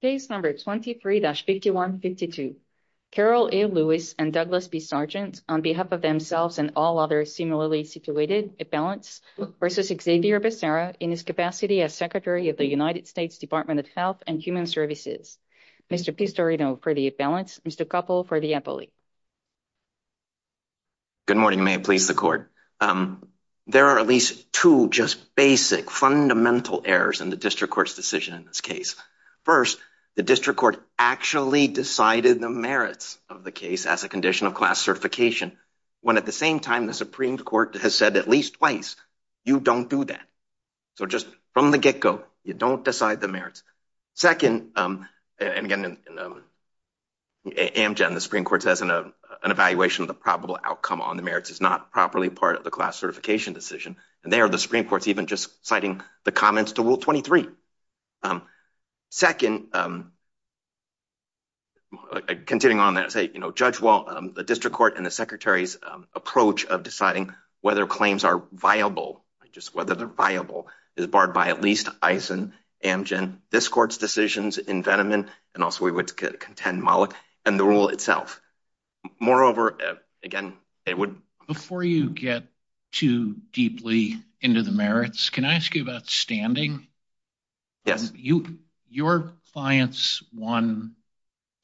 Case number 23-5152. Carol A. Lewis and Douglas B. Sargent on behalf of themselves and all others similarly situated at balance versus Xavier Becerra in his capacity as Secretary of the United States Department of Health and Human Services. Mr. Pistorino for the balance. Mr. Koppel for the appellate. Good morning, may it please the court. There are at least two just basic fundamental errors in the district court's decision in this case. First, the district court actually decided the merits of the case as a condition of class certification, when at the same time, the Supreme Court has said at least twice, you don't do that. So just from the get go, you don't decide the merits. Second, and again, Amgen, the Supreme Court says an evaluation of the probable outcome on the merits is not properly part of the class certification decision. And there the Supreme Court's just citing the comments to Rule 23. Second, continuing on that, say, you know, Judge Wall, the district court and the Secretary's approach of deciding whether claims are viable, just whether they're viable, is barred by at least Eisen, Amgen, this court's decisions in Veneman, and also we would contend Mollick, and the rule itself. Moreover, again, it would- I don't want to get too deeply into the merits. Can I ask you about standing? Yes. Your clients won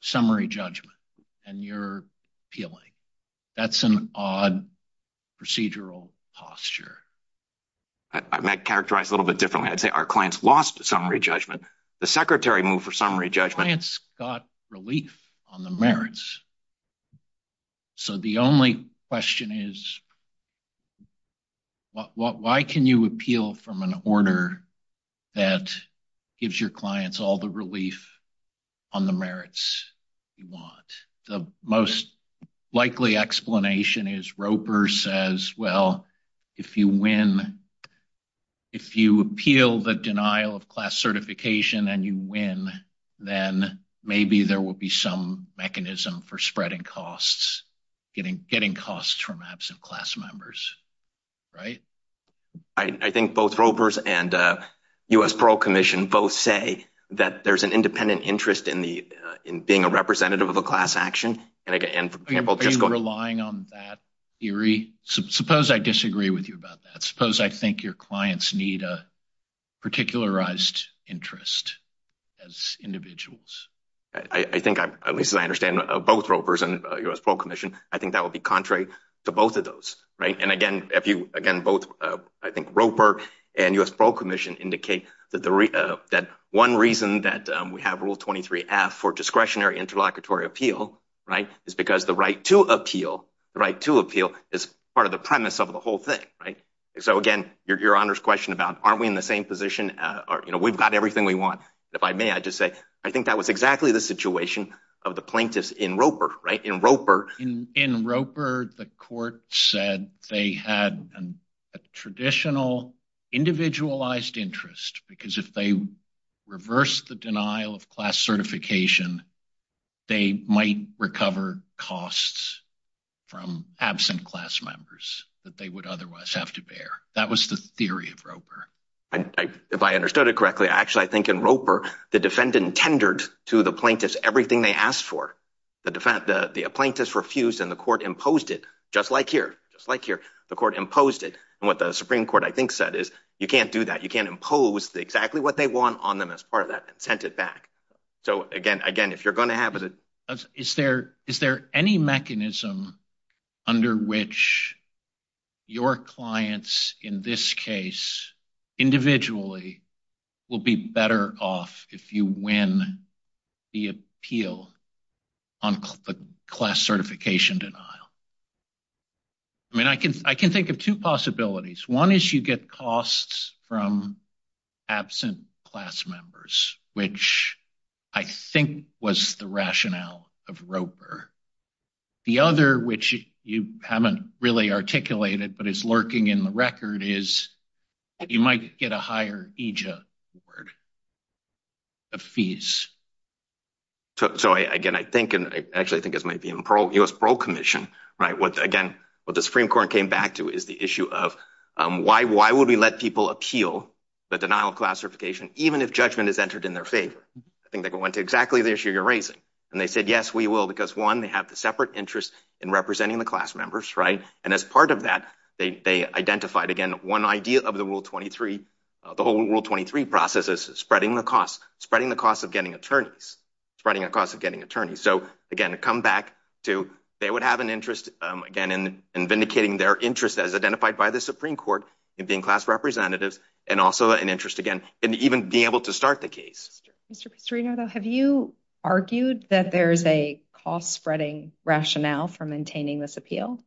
summary judgment, and you're appealing. That's an odd procedural posture. I might characterize a little bit differently. I'd say our clients lost summary judgment. The Secretary moved for summary judgment. The clients got relief on the merits. So the only question is, why can you appeal from an order that gives your clients all the relief on the merits you want? The most likely explanation is Roper says, well, if you win, if you appeal the denial of class certification and you win, then maybe there will be some mechanism for spreading costs, getting costs from absent class members, right? I think both Roper's and U.S. Parole Commission both say that there's an independent interest in the- in being a representative of a class action, and for example- Are you relying on that theory? Suppose I disagree with you about that. Suppose I think your clients need a particularized interest as individuals. I think, at least as I understand, both Roper's and U.S. Parole Commission, I think that would be contrary to both of those, right? And again, if you- again, both, I think, Roper and U.S. Parole Commission indicate that the- that one reason that we have Rule 23-F for discretionary interlocutory appeal, right, is because the right to appeal- the right to appeal is part of the premise of the whole thing, right? So again, your Honor's question about aren't we in the same position? You know, we've got everything we want. If I may, I'd just say I think that was exactly the situation of the plaintiffs in Roper, right? In Roper- In Roper, the court said they had a traditional individualized interest because if they reversed the denial of class certification, they might recover costs from absent class members that they would otherwise have to bear. That was the theory of Roper. If I understood it correctly, actually, I think in Roper, the defendant tendered to the plaintiffs everything they asked for. The plaintiffs refused and the court imposed it, just like here, just like here. The court imposed it. And what the Supreme Court, I think, said is, you can't do that. You can't impose exactly what they want on them as part of that and sent it back. So again, if you're going to have- Is there any mechanism under which your clients in this case, individually, will be better off if you win the appeal on the class certification denial? I mean, I can think of two possibilities. One is you get costs from absent class members, which I think was the rationale of Roper. The other, which you haven't really articulated, but it's lurking in the record, is that you might get a higher EJA award of fees. So again, I think, and actually, I think this might be in the U.S. Parole Commission, right? Again, what the Supreme Court came back to is the issue of why would we let people appeal the denial of class certification, even if judgment is entered in their favor? I think they went to exactly the issue you're raising. And they said, yes, we will, because one, they have the separate interest in representing the class members, right? And as part of that, they identified, again, one idea of the Rule 23, the whole Rule 23 process is spreading the cost, spreading the cost of getting attorneys, spreading the cost of getting attorneys. So again, to come back to, they would have an interest, again, in vindicating their interest, as identified by the Supreme Court, in being class representatives, and also an interest, again, in even being able to start the case. Mr. Pistarino, though, have you argued that there's a cost-spreading rationale for maintaining this appeal?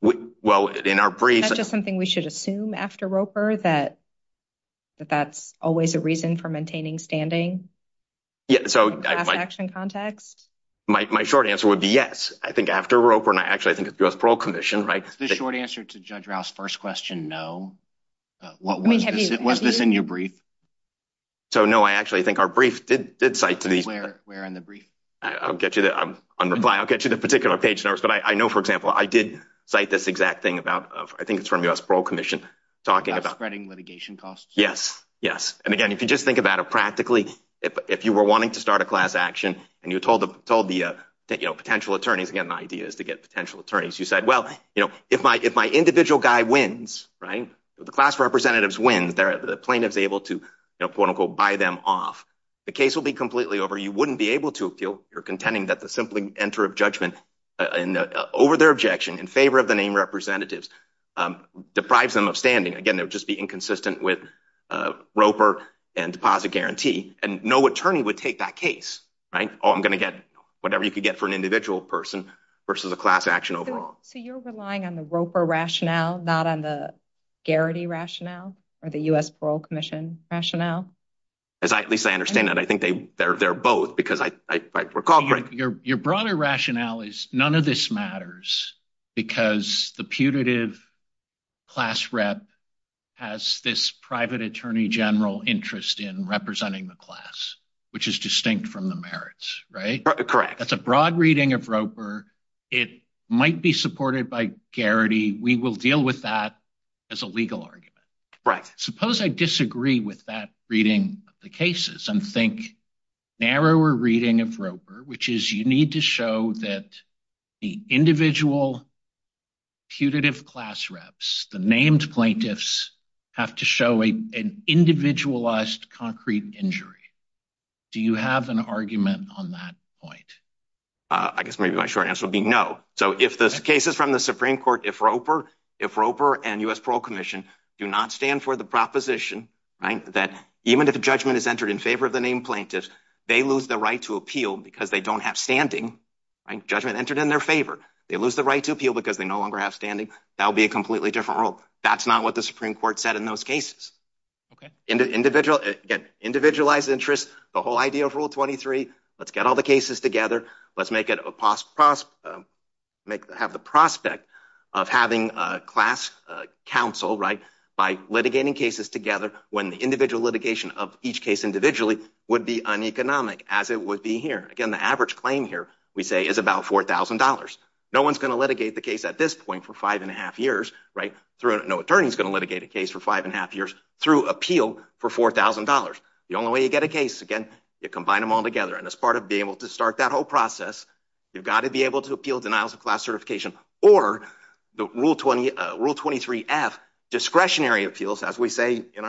Well, in our briefs... Is that just something we should assume after Roper, that that's always a reason for maintaining standing in the class action context? My short answer would be yes. I think after Roper, and actually, I think it's the U.S. Parole Commission, right? The short answer to Judge Rao's first question, no. Was this in your brief? So no, I actually think our brief did cite to these... Where in the brief? I'll get you the... On reply, I'll get you the particular page notes, but I know, for example, I did cite this exact thing about... I think it's from the U.S. Parole Commission, talking about... About spreading litigation costs. Yes, yes. And again, if you just think about it practically, if you were wanting to start a class action, and you told the potential attorneys, again, the idea is to get potential attorneys, you said, well, you know, if my individual guy wins, right? If the class representatives win, the plaintiff's able to, you know, quote, unquote, buy them off, the case will be completely over. You wouldn't be able to if you're contending that the simply enter of judgment over their objection in favor of the name representatives deprives them of standing. Again, it would just be inconsistent with Roper and deposit guarantee, and no attorney would take that case, right? Oh, I'm going to get whatever you could get for an individual person versus a class action overall. So you're relying on the Roper rationale, not on the Garrity rationale, or the U.S. Parole Commission rationale? At least I understand that. I think they're both, because I recall... Your broader rationale is none of this matters, because the putative class rep has this private attorney general interest in representing the class, which is distinct from the merits, right? Correct. That's a broad reading of Roper. It might be supported by Garrity. We will deal with that as a legal argument, right? Suppose I disagree with that reading the cases and think narrower reading of Roper, which is you need to show that the individual putative class reps, the named plaintiffs have to show an individualized concrete injury. Do you have an argument on that point? I guess maybe my short answer would be no. So if the cases from the Supreme Court, if Roper and U.S. Parole Commission do not stand for the proposition, right? That even if a judgment is entered in favor of the named plaintiffs, they lose the right to appeal because they don't have standing, right? Judgment entered in their favor. They lose the right to appeal because they no longer have standing. That would be a completely different rule. That's not what the Supreme Court said in those cases. Okay. Individualized interest, the whole idea of let's get all the cases together. Let's have the prospect of having a class council, right? By litigating cases together when the individual litigation of each case individually would be uneconomic as it would be here. Again, the average claim here we say is about $4,000. No one's going to litigate the case at this point for five and a half years, right? No attorney's going to litigate a case for five and a half years through appeal for $4,000. The only way you get a part of being able to start that whole process, you've got to be able to appeal denials of class certification or the Rule 23F discretionary appeals as we say in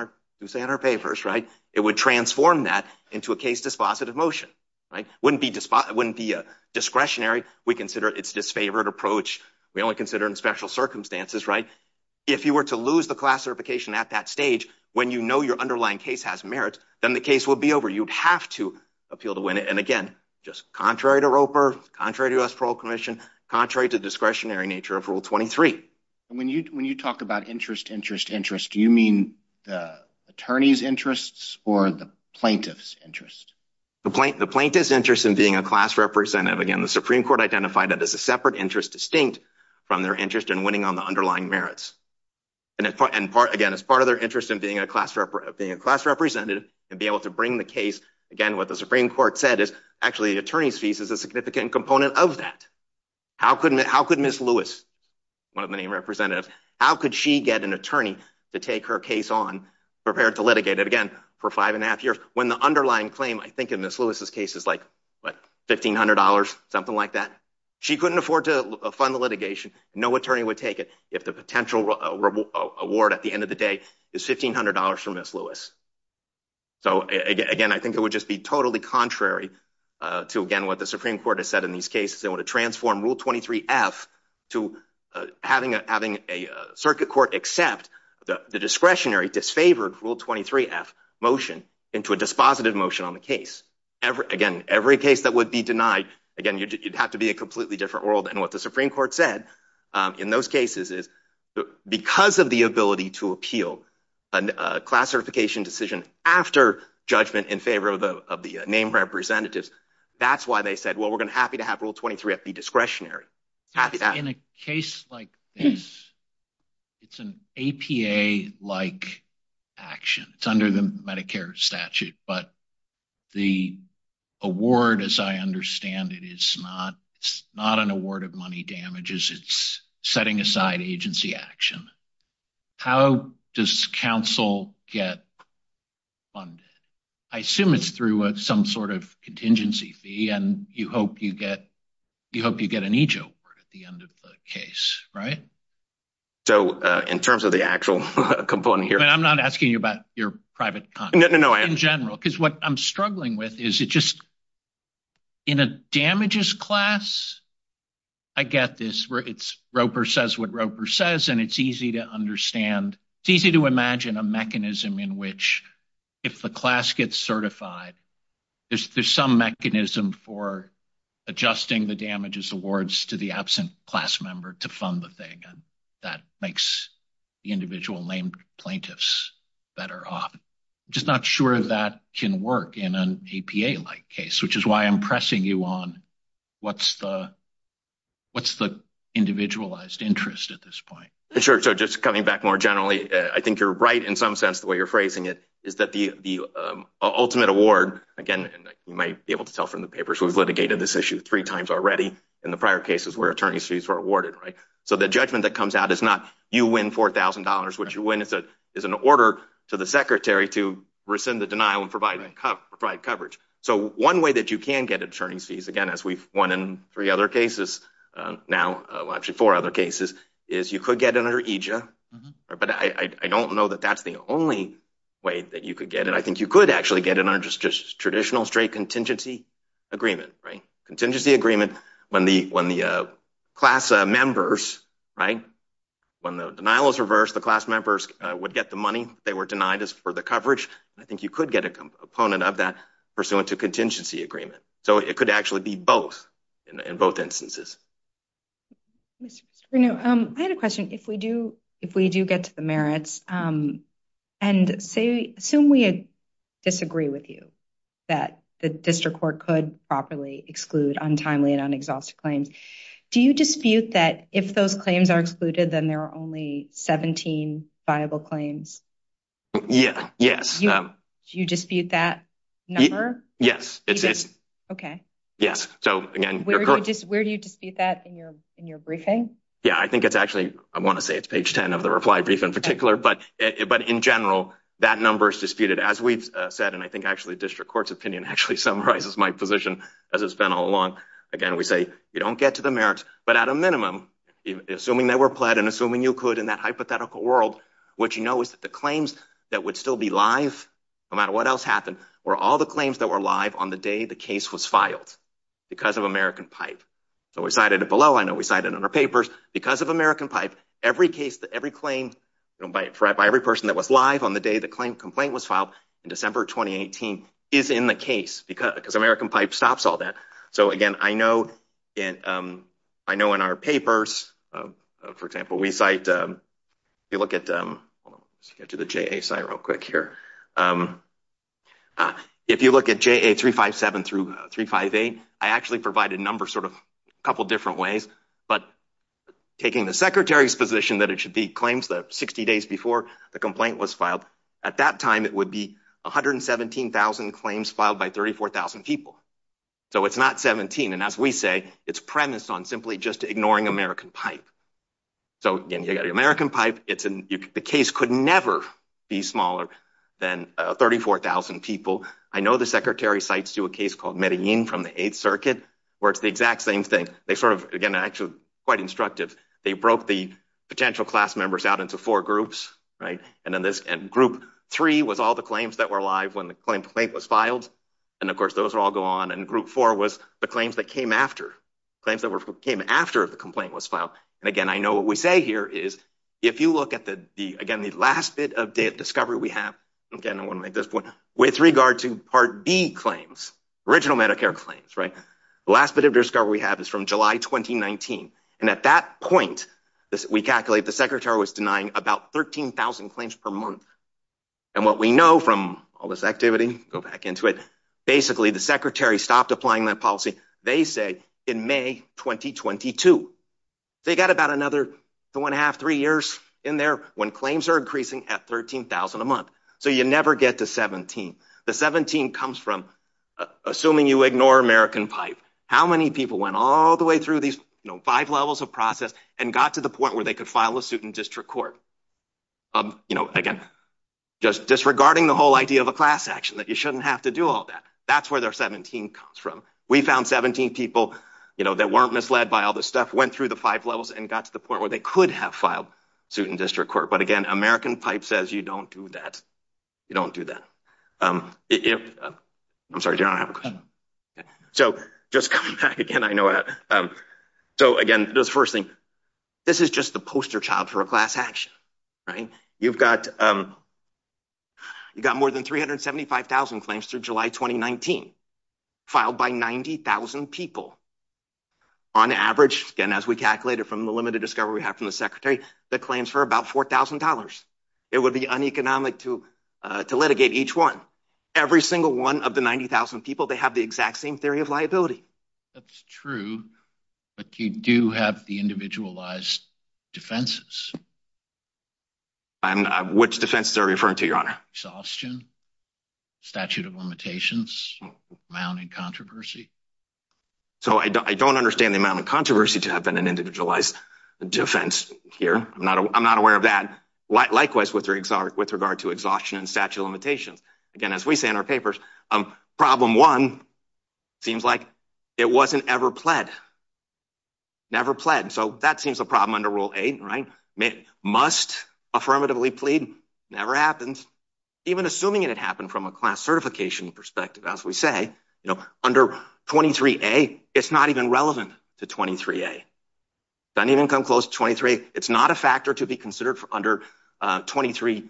our papers, right? It would transform that into a case dispositive motion, right? Wouldn't be discretionary. We consider it's disfavored approach. We only consider in special circumstances, right? If you were to lose the class certification at that stage, when you know your underlying case has merit, then the case will be over. You'd have to appeal to win it. And again, just contrary to Roper, contrary to U.S. Parole Commission, contrary to discretionary nature of Rule 23. And when you talk about interest, interest, interest, do you mean the attorney's interests or the plaintiff's interest? The plaintiff's interest in being a class representative. Again, the Supreme Court identified that as a separate interest distinct from their interest in winning on the underlying merits. And again, as part of their interest in being a class representative and be able to bring the case, again, what the Supreme Court said is actually the attorney's fees is a significant component of that. How could Ms. Lewis, one of many representatives, how could she get an attorney to take her case on, prepared to litigate it again for five and a half years when the underlying claim, I think in Ms. Lewis's case is like, what, $1,500, something like that? She couldn't afford to fund the litigation. No attorney would take it if the potential award at the end of the day is $1,500 from Ms. Lewis. So again, I think it would just be totally contrary to, again, what the Supreme Court has said in these cases. They want to transform Rule 23-F to having a circuit court accept the discretionary, disfavored Rule 23-F motion into a dispositive motion on the case. Again, every case that would be denied, again, you'd have to be a completely different world. And what the Supreme Court said in those cases is, because of the ability to appeal a class certification decision after judgment in favor of the named representatives, that's why they said, well, we're going to be happy to have Rule 23-F be discretionary. In a case like this, it's an APA-like action. It's not an award of money damages. It's setting aside agency action. How does counsel get funded? I assume it's through some sort of contingency fee, and you hope you get an EJO award at the end of the case, right? So in terms of the actual component here- I'm not asking you about your in a damages class. I get this. Roper says what Roper says, and it's easy to understand. It's easy to imagine a mechanism in which, if the class gets certified, there's some mechanism for adjusting the damages awards to the absent class member to fund the thing, and that makes the individual named plaintiffs better off. I'm just not sure that can work in an APA-like case, which is why I'm pressing you on what's the individualized interest at this point. Sure. So just coming back more generally, I think you're right in some sense, the way you're phrasing it, is that the ultimate award, again, you might be able to tell from the papers, we've litigated this issue three times already in the prior cases where attorney's fees were awarded, right? So the judgment that comes out is not you win $4,000. What you win is an order to the secretary to rescind the denial and provide coverage. So one way that you can get attorney's fees, again, as we've won in three other cases now, well actually four other cases, is you could get it under EJA, but I don't know that that's the only way that you could get it. I think you could actually get it under just traditional straight contingency agreement, right? Contingency agreement when the class members, right, when the denial is reversed, the class members would get the money. They were denied as for the coverage. I think you could get a component of that pursuant to contingency agreement. So it could actually be both, in both instances. Mr. Strano, I had a question. If we do get to the merits, and say, assume we disagree with you that the district court could properly exclude untimely un-exhausted claims. Do you dispute that if those claims are excluded, then there are only 17 viable claims? Yeah, yes. Do you dispute that number? Yes. Okay. Yes. So again, where do you dispute that in your briefing? Yeah, I think it's actually, I want to say it's page 10 of the reply brief in particular, but in general, that number is disputed. As we've said, and I think actually we say, you don't get to the merits, but at a minimum, assuming they were pled and assuming you could in that hypothetical world, what you know is that the claims that would still be live, no matter what else happened, were all the claims that were live on the day the case was filed because of American Pipe. So we cited it below. I know we cited it in our papers. Because of American Pipe, every case, every claim, by every person that was live on the day the complaint was filed in December of 2018 is in the case because American Pipe stops all that. So again, I know in our papers, for example, we cite, if you look at, hold on, let's get to the JA site real quick here. If you look at JA 357 through 358, I actually provide a number sort of a couple different ways, but taking the secretary's position that it should be claims that 60 days before the complaint was filed, at that time it would be 117,000 claims filed by 34,000 people. So it's not 17. And as we say, it's premised on simply just ignoring American Pipe. So again, you got American Pipe. The case could never be smaller than 34,000 people. I know the secretary cites to a case called Medellin from the Eighth Circuit, where it's the exact same thing. They sort of, again, actually quite instructive. They broke the potential class members out into four groups, right? And then this group three was all the claims that were live when the and group four was the claims that came after. Claims that came after the complaint was filed. And again, I know what we say here is, if you look at the, again, the last bit of discovery we have, again, I want to make this point, with regard to Part B claims, original Medicare claims, right? The last bit of discovery we have is from July, 2019. And at that point, we calculate the secretary was denying about 13,000 claims per month. And what we know from all this activity, go back into it. Basically, the secretary stopped applying that policy, they say, in May 2022. They got about another two and a half, three years in there when claims are increasing at 13,000 a month. So you never get to 17. The 17 comes from assuming you ignore American Pipe. How many people went all the way through these five levels of process and got to the point where they could file a suit in district court? Again, just disregarding the whole idea of a class action, you shouldn't have to do all that. That's where the 17 comes from. We found 17 people that weren't misled by all this stuff, went through the five levels and got to the point where they could have filed suit in district court. But again, American Pipe says you don't do that. You don't do that. I'm sorry, do you want to have a question? So just coming back again, I know, so again, this first thing, this is just the poster child for a class action, right? You've got more than 375,000 claims through July 2019, filed by 90,000 people. On average, again, as we calculated from the limited discovery we have from the secretary, that claims for about $4,000. It would be uneconomic to litigate each one. Every single one of the 90,000 people, they have the exact same theory of liability. That's true, but you do have the individualized defenses. Which defenses are you referring to, your honor? Exhaustion, statute of limitations, amounting controversy. So I don't understand the amount of controversy to have been an individualized defense here. I'm not aware of that. Likewise, with regard to exhaustion and statute of limitations. Again, as we say in our papers, problem one seems like it wasn't ever pled. Never pled. So that seems a problem under Rule 8, right? Must affirmatively plead, never happens. Even assuming it had happened from a class certification perspective, as we say, you know, under 23A, it's not even relevant to 23A. Doesn't even come close to 23A. It's not a factor to be considered for under 23B3.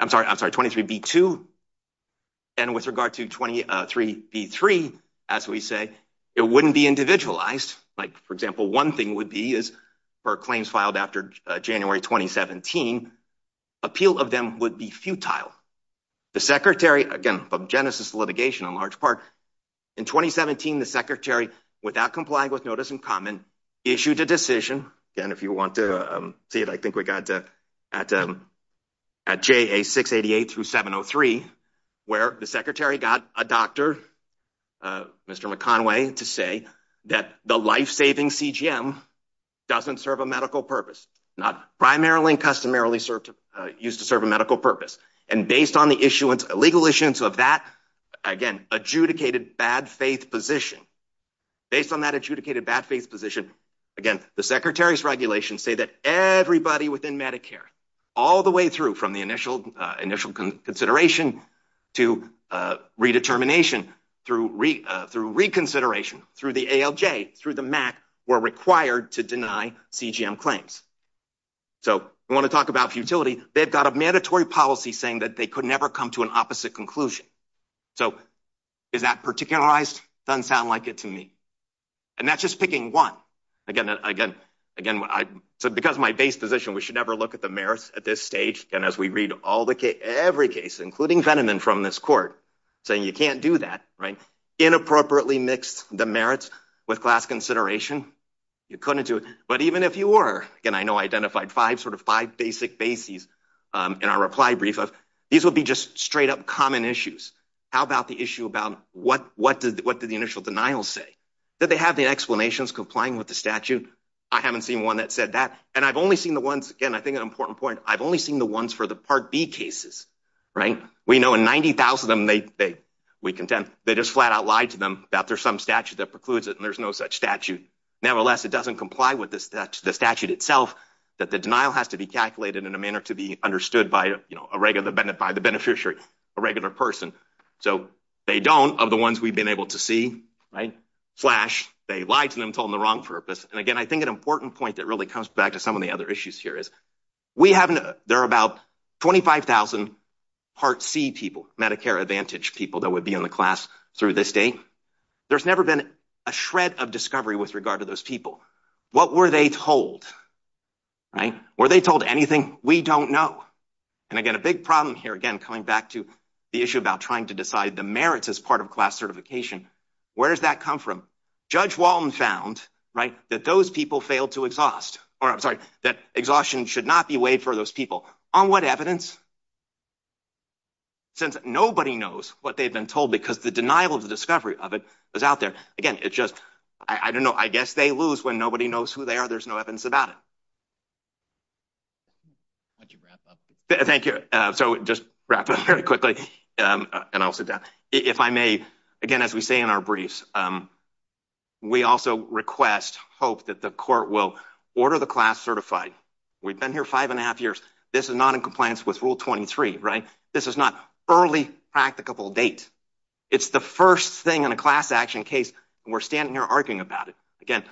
I'm sorry, I'm sorry, 23B2. And with regard to 23B3, as we say, it wouldn't be individualized. Like, for example, one thing would be is for claims filed after January 2017, appeal of them would be futile. The secretary, again, from Genesis litigation in large In 2017, the secretary, without complying with notice in common, issued a decision. Again, if you want to see it, I think we got to at JA 688 through 703, where the secretary got a doctor, Mr. McConway, to say that the life-saving CGM doesn't serve a medical purpose. Not primarily and customarily used to serve a medical purpose. And based on legal issuance of that, again, adjudicated bad-faith position. Based on that adjudicated bad-faith position, again, the secretary's regulations say that everybody within Medicare, all the way through from the initial consideration to redetermination, through reconsideration, through the ALJ, through the MAC, were required to deny CGM claims. So we want to talk about they've got a mandatory policy saying that they could never come to an opposite conclusion. So is that particularized? Doesn't sound like it to me. And that's just picking one. Again, because my base position, we should never look at the merits at this stage. And as we read all the case, every case, including Veneman from this court, saying you can't do that, right? Inappropriately mixed the merits with class consideration. You couldn't do it. But sort of five basic bases in our reply brief. These would be just straight-up common issues. How about the issue about what did the initial denial say? Did they have the explanations complying with the statute? I haven't seen one that said that. And I've only seen the ones, again, I think an important point, I've only seen the ones for the Part B cases, right? We know in 90,000 of them, we contend, they just flat-out lied to them that there's some statute that precludes it and there's no such statute. Nevertheless, it doesn't comply the statute itself that the denial has to be calculated in a manner to be understood by the beneficiary, a regular person. So they don't, of the ones we've been able to see, flash, they lied to them, told them the wrong purpose. And again, I think an important point that really comes back to some of the other issues here is there are about 25,000 Part C people, Medicare Advantage people that would be in the class through this date. There's never been a shred of discovery with regard to those people. What were they told? Were they told anything? We don't know. And again, a big problem here, again, coming back to the issue about trying to decide the merits as part of class certification, where does that come from? Judge Walton found that those people failed to exhaust, or I'm sorry, that exhaustion should not be weighed for those people. On what evidence? Since nobody knows what they've been told because the denial of the discovery of it is out there. Again, it's just, I don't know, I guess they lose when nobody knows who they are. There's no evidence about it. Why don't you wrap up? Thank you. So just wrap up very quickly and I'll sit down. If I may, again, as we say in our briefs, we also request, hope that the court will order the class certified. We've been here five and a half years. This is not in compliance with Rule 23, right? This is not early practicable date. It's the first thing in a class action case and we're standing here arguing about it. Again,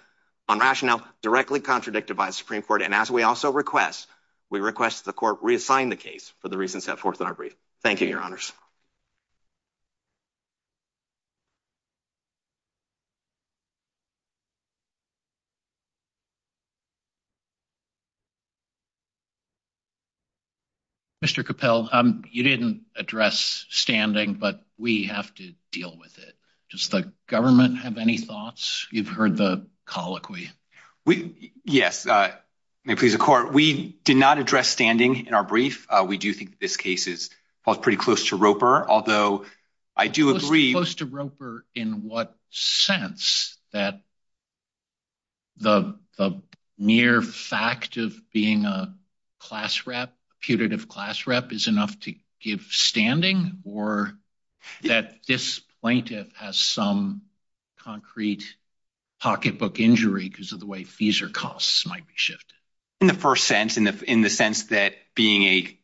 on rationale directly contradicted by the Supreme Court. And as we also request, we request the court reassign the case for the reasons set forth in our brief. Thank you, your We have to deal with it. Does the government have any thoughts? You've heard the colloquy. Yes. May it please the court, we did not address standing in our brief. We do think this case is pretty close to Roper, although I do agree. Close to Roper in what sense that the mere fact of being a class rep, putative class rep is enough to give standing or that this plaintiff has some concrete pocketbook injury because of the way fees or costs might be shifted. In the first sense, in the sense that being a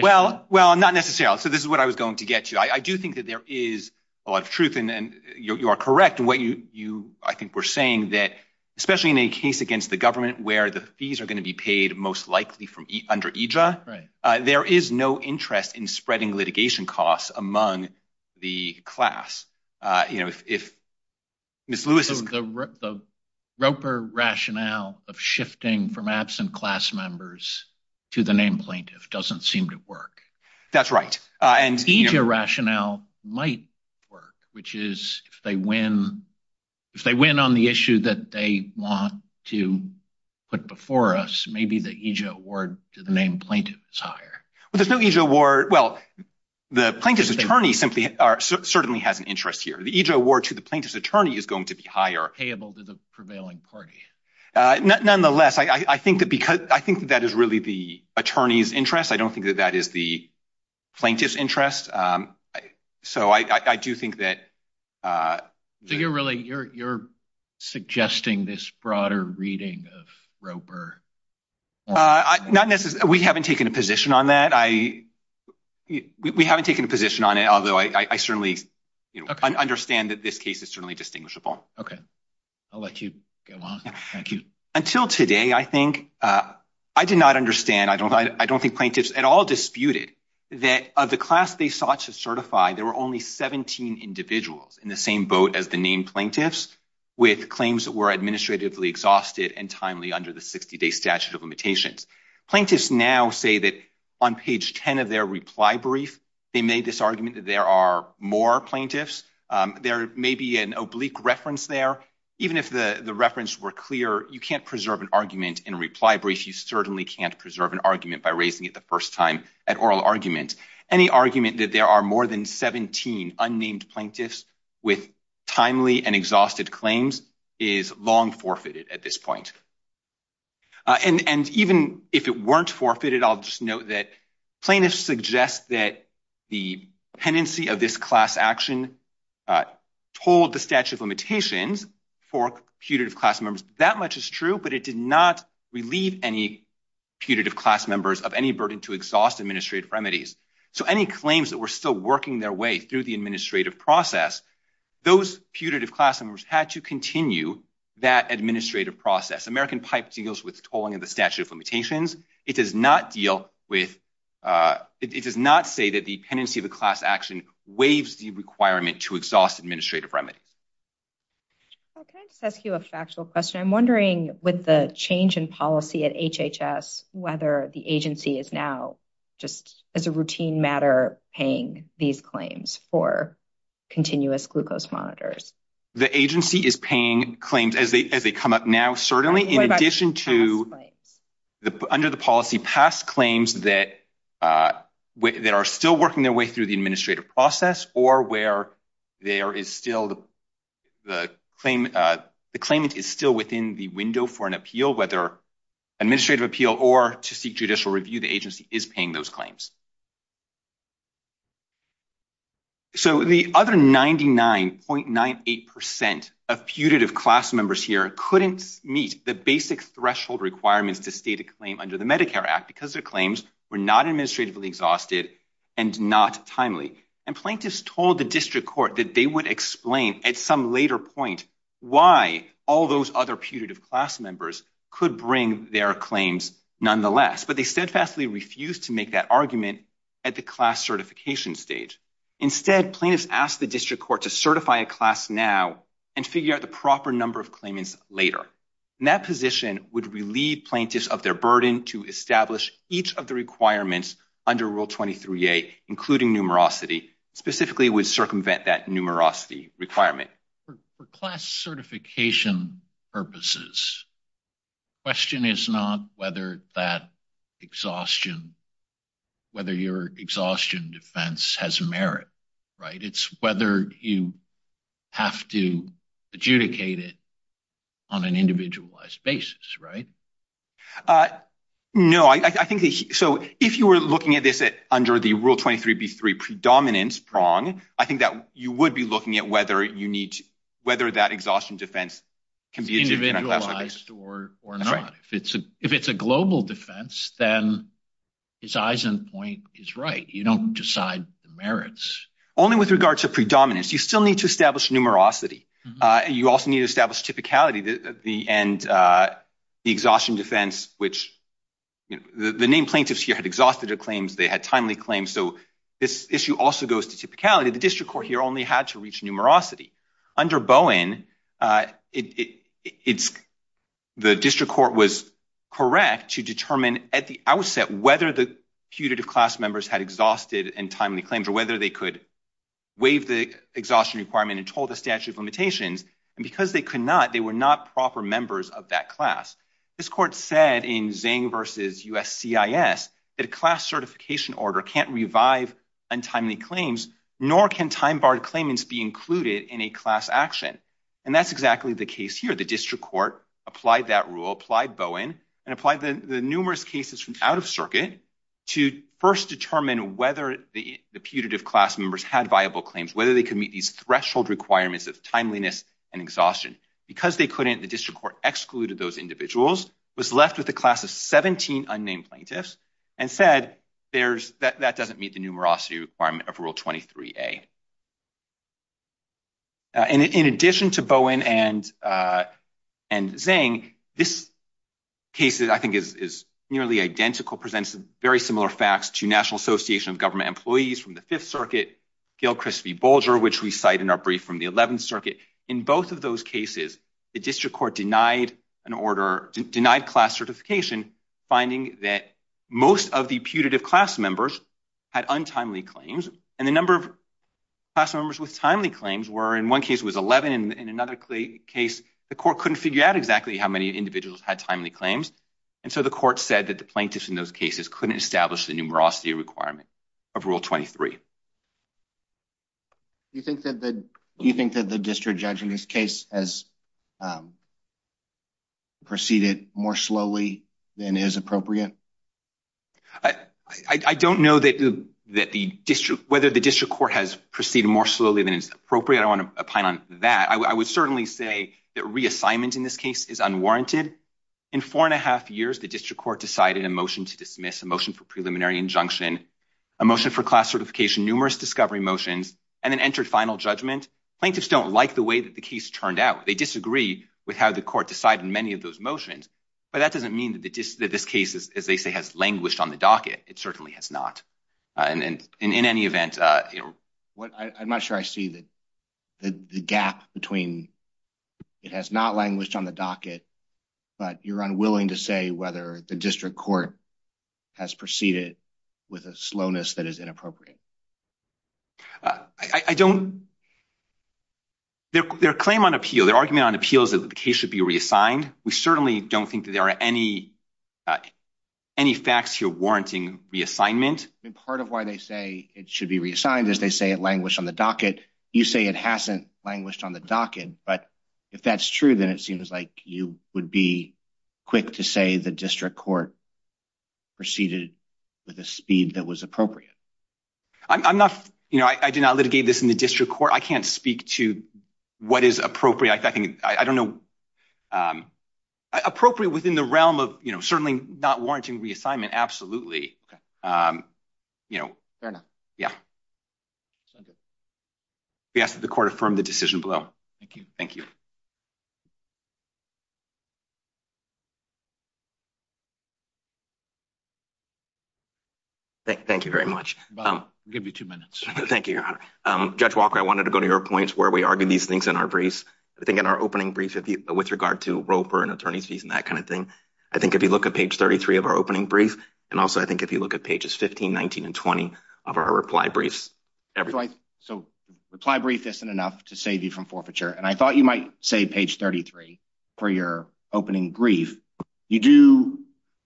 well, well, not necessarily. So this is what I was going to get you. I do think that there is a lot of truth and you are correct in what you, I think we're saying that, especially in a case against the government where the fees are going to be paid most likely from under EJA, there is no interest in spreading litigation costs among the class. The Roper rationale of shifting from absent class members to the named plaintiff doesn't seem to work. That's right. EJA rationale might work, which is if they win, if they win on the issue that they want to put before us, maybe the EJA award to the named plaintiff is higher. Well, there's no EJA award. Well, the plaintiff's attorney certainly has an interest here. The EJA award to the plaintiff's attorney is going to be higher. Payable to the prevailing party. Nonetheless, I think that is really the attorney's interest. I don't think that that is the plaintiff's interest. So I do not necessarily, we haven't taken a position on that. We haven't taken a position on it, although I certainly understand that this case is certainly distinguishable. Okay, I'll let you go on. Thank you. Until today, I think, I did not understand, I don't think plaintiffs at all disputed that of the class they sought to certify, there were only 17 individuals in the same boat as the named plaintiffs with claims that were administratively exhausted and timely under the 60-day statute of limitations. Plaintiffs now say that on page 10 of their reply brief, they made this argument that there are more plaintiffs. There may be an oblique reference there. Even if the reference were clear, you can't preserve an argument in a reply brief. You certainly can't preserve an argument by raising it the first time at oral argument. Any argument that there are more than 17 unnamed plaintiffs with timely and exhausted claims is long forfeited at this point. And even if it weren't forfeited, I'll just note that plaintiffs suggest that the pendency of this class action told the statute of limitations for putative class members. That much is true, but it did not relieve any putative class members of any burden to exhaust administrative remedies. So any claims that were still working their way through the administrative process, those putative class members had to continue that administrative process. American Pipe deals with tolling of the statute of limitations. It does not deal with, it does not say that the pendency of the class action waives the requirement to exhaust administrative remedies. Can I just ask you a factual question? I'm wondering with the change in policy at HHS, whether the agency is now just as a routine matter, paying these claims for continuous glucose monitors. The agency is paying claims as they come up now, certainly in addition to under the policy past claims that are still working their way through the administrative process or where there is still the claimant is still within the window for an appeal, whether administrative appeal or to seek judicial review, the agency is paying those claims. So the other 99.98% of putative class members here couldn't meet the basic threshold requirements to state a claim under the Medicare Act because their claims were not administratively exhausted and not timely. And plaintiffs told the district court that they would explain at some later point why all those other putative class members could bring their claims nonetheless. But they steadfastly refused to make that argument at the class certification stage. Instead, plaintiffs asked the district court to certify a class now and figure out the proper number of claimants later. And that position would relieve plaintiffs of their burden to establish each of the requirements under Rule 23a, including numerosity, specifically circumvent that numerosity requirement. For class certification purposes, question is not whether that exhaustion, whether your exhaustion defense has merit, right? It's whether you have to adjudicate it on an individualized basis, right? Uh, no, I think so. If you were looking at this under the Rule 23b3 predominance prong, I think that you would be looking at whether you need whether that exhaustion defense can be individualized or not. If it's a global defense, then his eyes and point is right. You don't decide the merits only with regard to predominance. You still need to establish numerosity. You also need to establish typicality, the end, uh, the exhaustion defense, which the name plaintiffs here had exhausted their claims. They had timely claims. So this issue also goes to typicality. The district court here only had to reach numerosity under Bowen. Uh, it it's the district court was correct to determine at the outset whether the putative class members had exhausted and timely claims or whether they could waive the exhaustion requirement and told the statute of limitations. And because they could not, they were not proper members of that class. This court said in Zang versus USCIS that a class certification order can't revive untimely claims, nor can time barred claimants be included in a class action. And that's exactly the case here. The district court applied that rule, applied Bowen and applied the numerous cases from out of circuit to first determine whether the putative class members had viable claims, whether they could meet these threshold requirements of timeliness and exhaustion because they couldn't. The district court excluded those individuals, was left with a class of 17 unnamed plaintiffs and said there's that that doesn't meet the numerosity requirement of rule 23a. Uh, and in addition to Bowen and, uh, and Zang, this case that I think is, is nearly identical presents very similar facts to national association of government employees from the fifth circuit, Gil Christie Bulger, which we cite in our brief from the 11th circuit. In both of those cases, the district court denied an order, denied class certification, finding that most of the putative class members had untimely claims. And the number of class members with timely claims were in one case was 11. And in another case, the court couldn't figure out exactly how many individuals had timely claims. And so the court said that the plaintiffs in those cases couldn't establish the numerosity requirement of rule 23. Do you think that the, do you think that the district judge in this case has, um, proceeded more slowly than is appropriate? I don't know that, that the district, whether the district court has proceeded more slowly than is appropriate. I want to pine on that. I would certainly say that reassignment in this case is unwarranted. In four and a half years, the district court decided a motion to dismiss a motion for preliminary injunction, a motion for class certification, numerous discovery motions, and then entered final judgment. Plaintiffs don't like the way that the case turned out. They disagree with how the court decided many of those motions, but that doesn't mean that the dis that this case is, as they say, has languished on the docket. It certainly has not. And, and in any event, uh, you know what, I, I'm not sure I see that the gap between it has not languished on the docket, but you're unwilling to say whether the district court has proceeded with a slowness that is inappropriate. Uh, I, I don't, their, their claim on appeal, their argument on appeals that the case should be reassigned. We certainly don't think that there are any, uh, any facts here warranting reassignment. And part of why they say it should be reassigned as they say it languished on the docket. But if that's true, then it seems like you would be quick to say the district court proceeded with a speed that was appropriate. I'm not, you know, I, I did not litigate this in the district court. I can't speak to what is appropriate. I think, I don't know, um, appropriate within the realm of, you know, certainly not warranting reassignment. Absolutely. Um, you know, yeah, we asked that the court affirmed the decision below. Thank you. Thank you. Thank you very much. Um, give you two minutes. Thank you. Um, judge Walker, I wanted to go to your points where we argue these things in our briefs. I think in our opening brief with regard to rope or an attorney's fees and that kind of thing. I think if you look at page 33 of our briefs, I think if you look at pages 15, 19 and 20 of our reply briefs. So reply brief isn't enough to save you from forfeiture. And I thought you might say page 33 for your opening grief. You do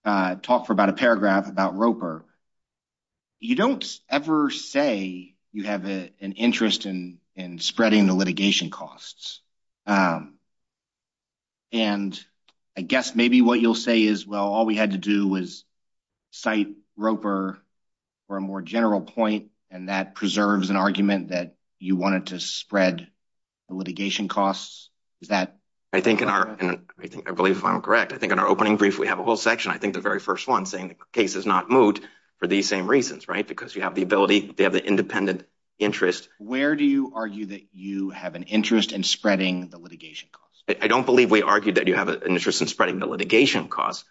talk for about a paragraph about Roper. You don't ever say you have an interest in, in spreading the litigation costs. Um, and I guess maybe what you'll say is, well, all we had to do was cite Roper for a more general point. And that preserves an argument that you wanted to spread the litigation costs. Is that I think in our, I think I believe if I'm correct, I think in our opening brief, we have a whole section. I think the very first one saying the case has not moved for these same reasons, right? Because you have the ability, they have the independent interest. Where do you argue that you have an interest in spreading the litigation costs? I don't believe we argued that you have an interest in spreading the litigation costs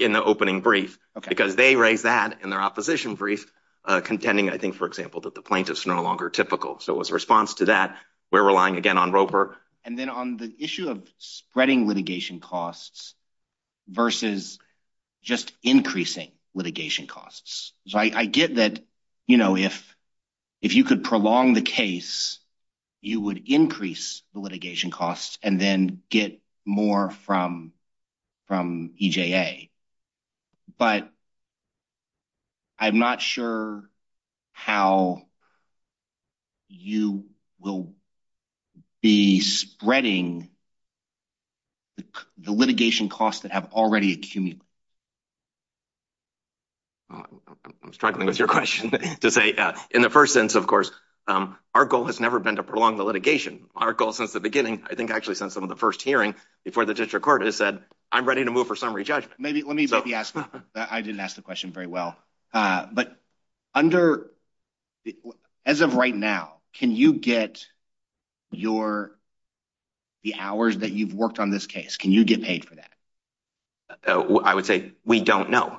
in the opening brief because they raised that in their opposition brief, uh, contending, I think, for example, that the plaintiffs are no longer typical. So as a response to that, we're relying again on Roper. And then on the issue of spreading litigation costs versus just increasing litigation costs. So I get that, you know, if, if you could prolong the case, you would increase the litigation costs and then get more from, from EJA. But I'm not sure how you will be spreading the litigation costs that have already accumulated. I'm struggling with your question to say that in the first sense, of course, our goal has never been to prolong the litigation. Our goal since the beginning, I think actually since some of the first hearing before the district court has said, I'm ready to move for summary judgment. Maybe, let me maybe ask, I didn't ask the question very well. Uh, but under as of right now, can you get your, the hours that you've worked on this case? Can you get paid for that? I would say we don't know,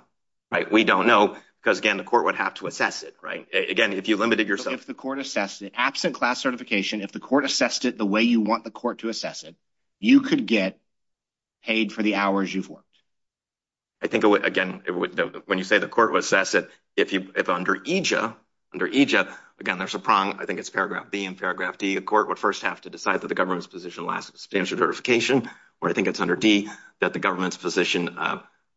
right? We don't know because again, the absent class certification, if the court assessed it the way you want the court to assess it, you could get paid for the hours you've worked. I think again, when you say the court would assess it, if you, if under EJA, under EJA, again, there's a prong, I think it's paragraph B and paragraph D, a court would first have to decide that the government's position lasts substantial verification. Or I think it's under D that the government's position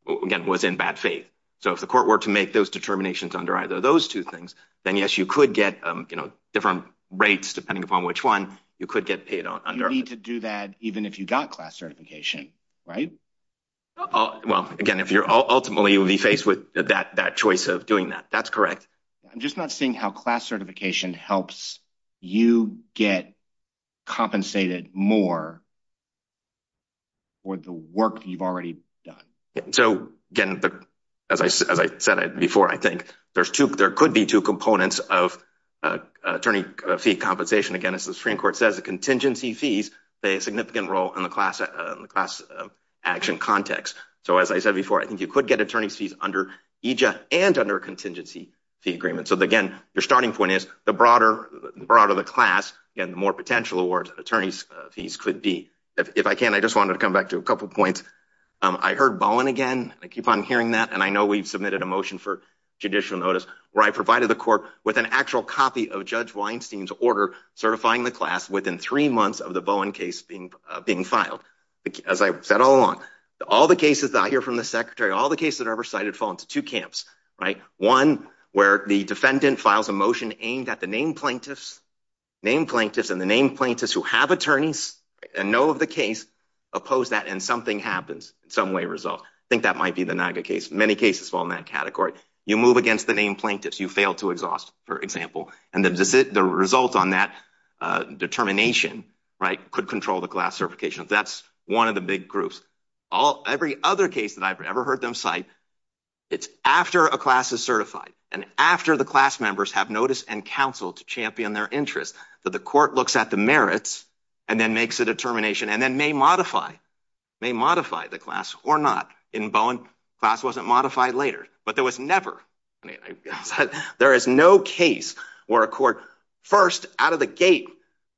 again, was in bad faith. So if the court were to make those determinations under either of those two things, then yes, you could get, um, you know, different rates depending upon which one you could get paid on. You need to do that even if you got class certification, right? Well, again, if you're ultimately will be faced with that, that choice of doing that. That's correct. I'm just not seeing how class certification helps you get compensated more for the work that you've already done. So again, as I, as I said before, I think there's two, there could be two components of attorney fee compensation. Again, as the Supreme Court says, contingency fees play a significant role in the class action context. So as I said before, I think you could get attorney's fees under EJA and under a contingency fee agreement. So again, your starting point is the broader, the broader the class and the more potential awards attorneys fees could be. If I can, I just wanted to come back to a couple of points. I heard Bowen again, I keep on hearing that. And I know we've submitted a motion for I provided the court with an actual copy of judge Weinstein's order certifying the class within three months of the Bowen case being being filed. As I said all along, all the cases that I hear from the secretary, all the cases that are ever cited fall into two camps, right? One where the defendant files a motion aimed at the name plaintiffs, name plaintiffs and the name plaintiffs who have attorneys and know of the case oppose that and something happens in some way result. I think that might be the Naga case. Many cases fall in that category. You move against the name plaintiffs, you fail to exhaust, for example, and the result on that determination, right, could control the class certification. That's one of the big groups. Every other case that I've ever heard them cite, it's after a class is certified and after the class members have notice and counsel to champion their interests that the court looks at the merits and then makes a determination and then may modify, may modify the class or not. In Bowen, class wasn't modified later, but there was never. I mean, there is no case where a court first out of the gate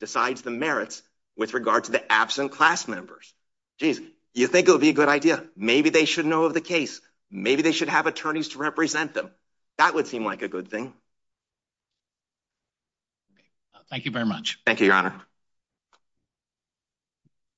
decides the merits with regard to the absent class members. Geez, you think it'll be a good idea. Maybe they should know of the case. Maybe they should have attorneys to represent them. That would seem like a good thing. Thank you very much. Thank you, Your Honor.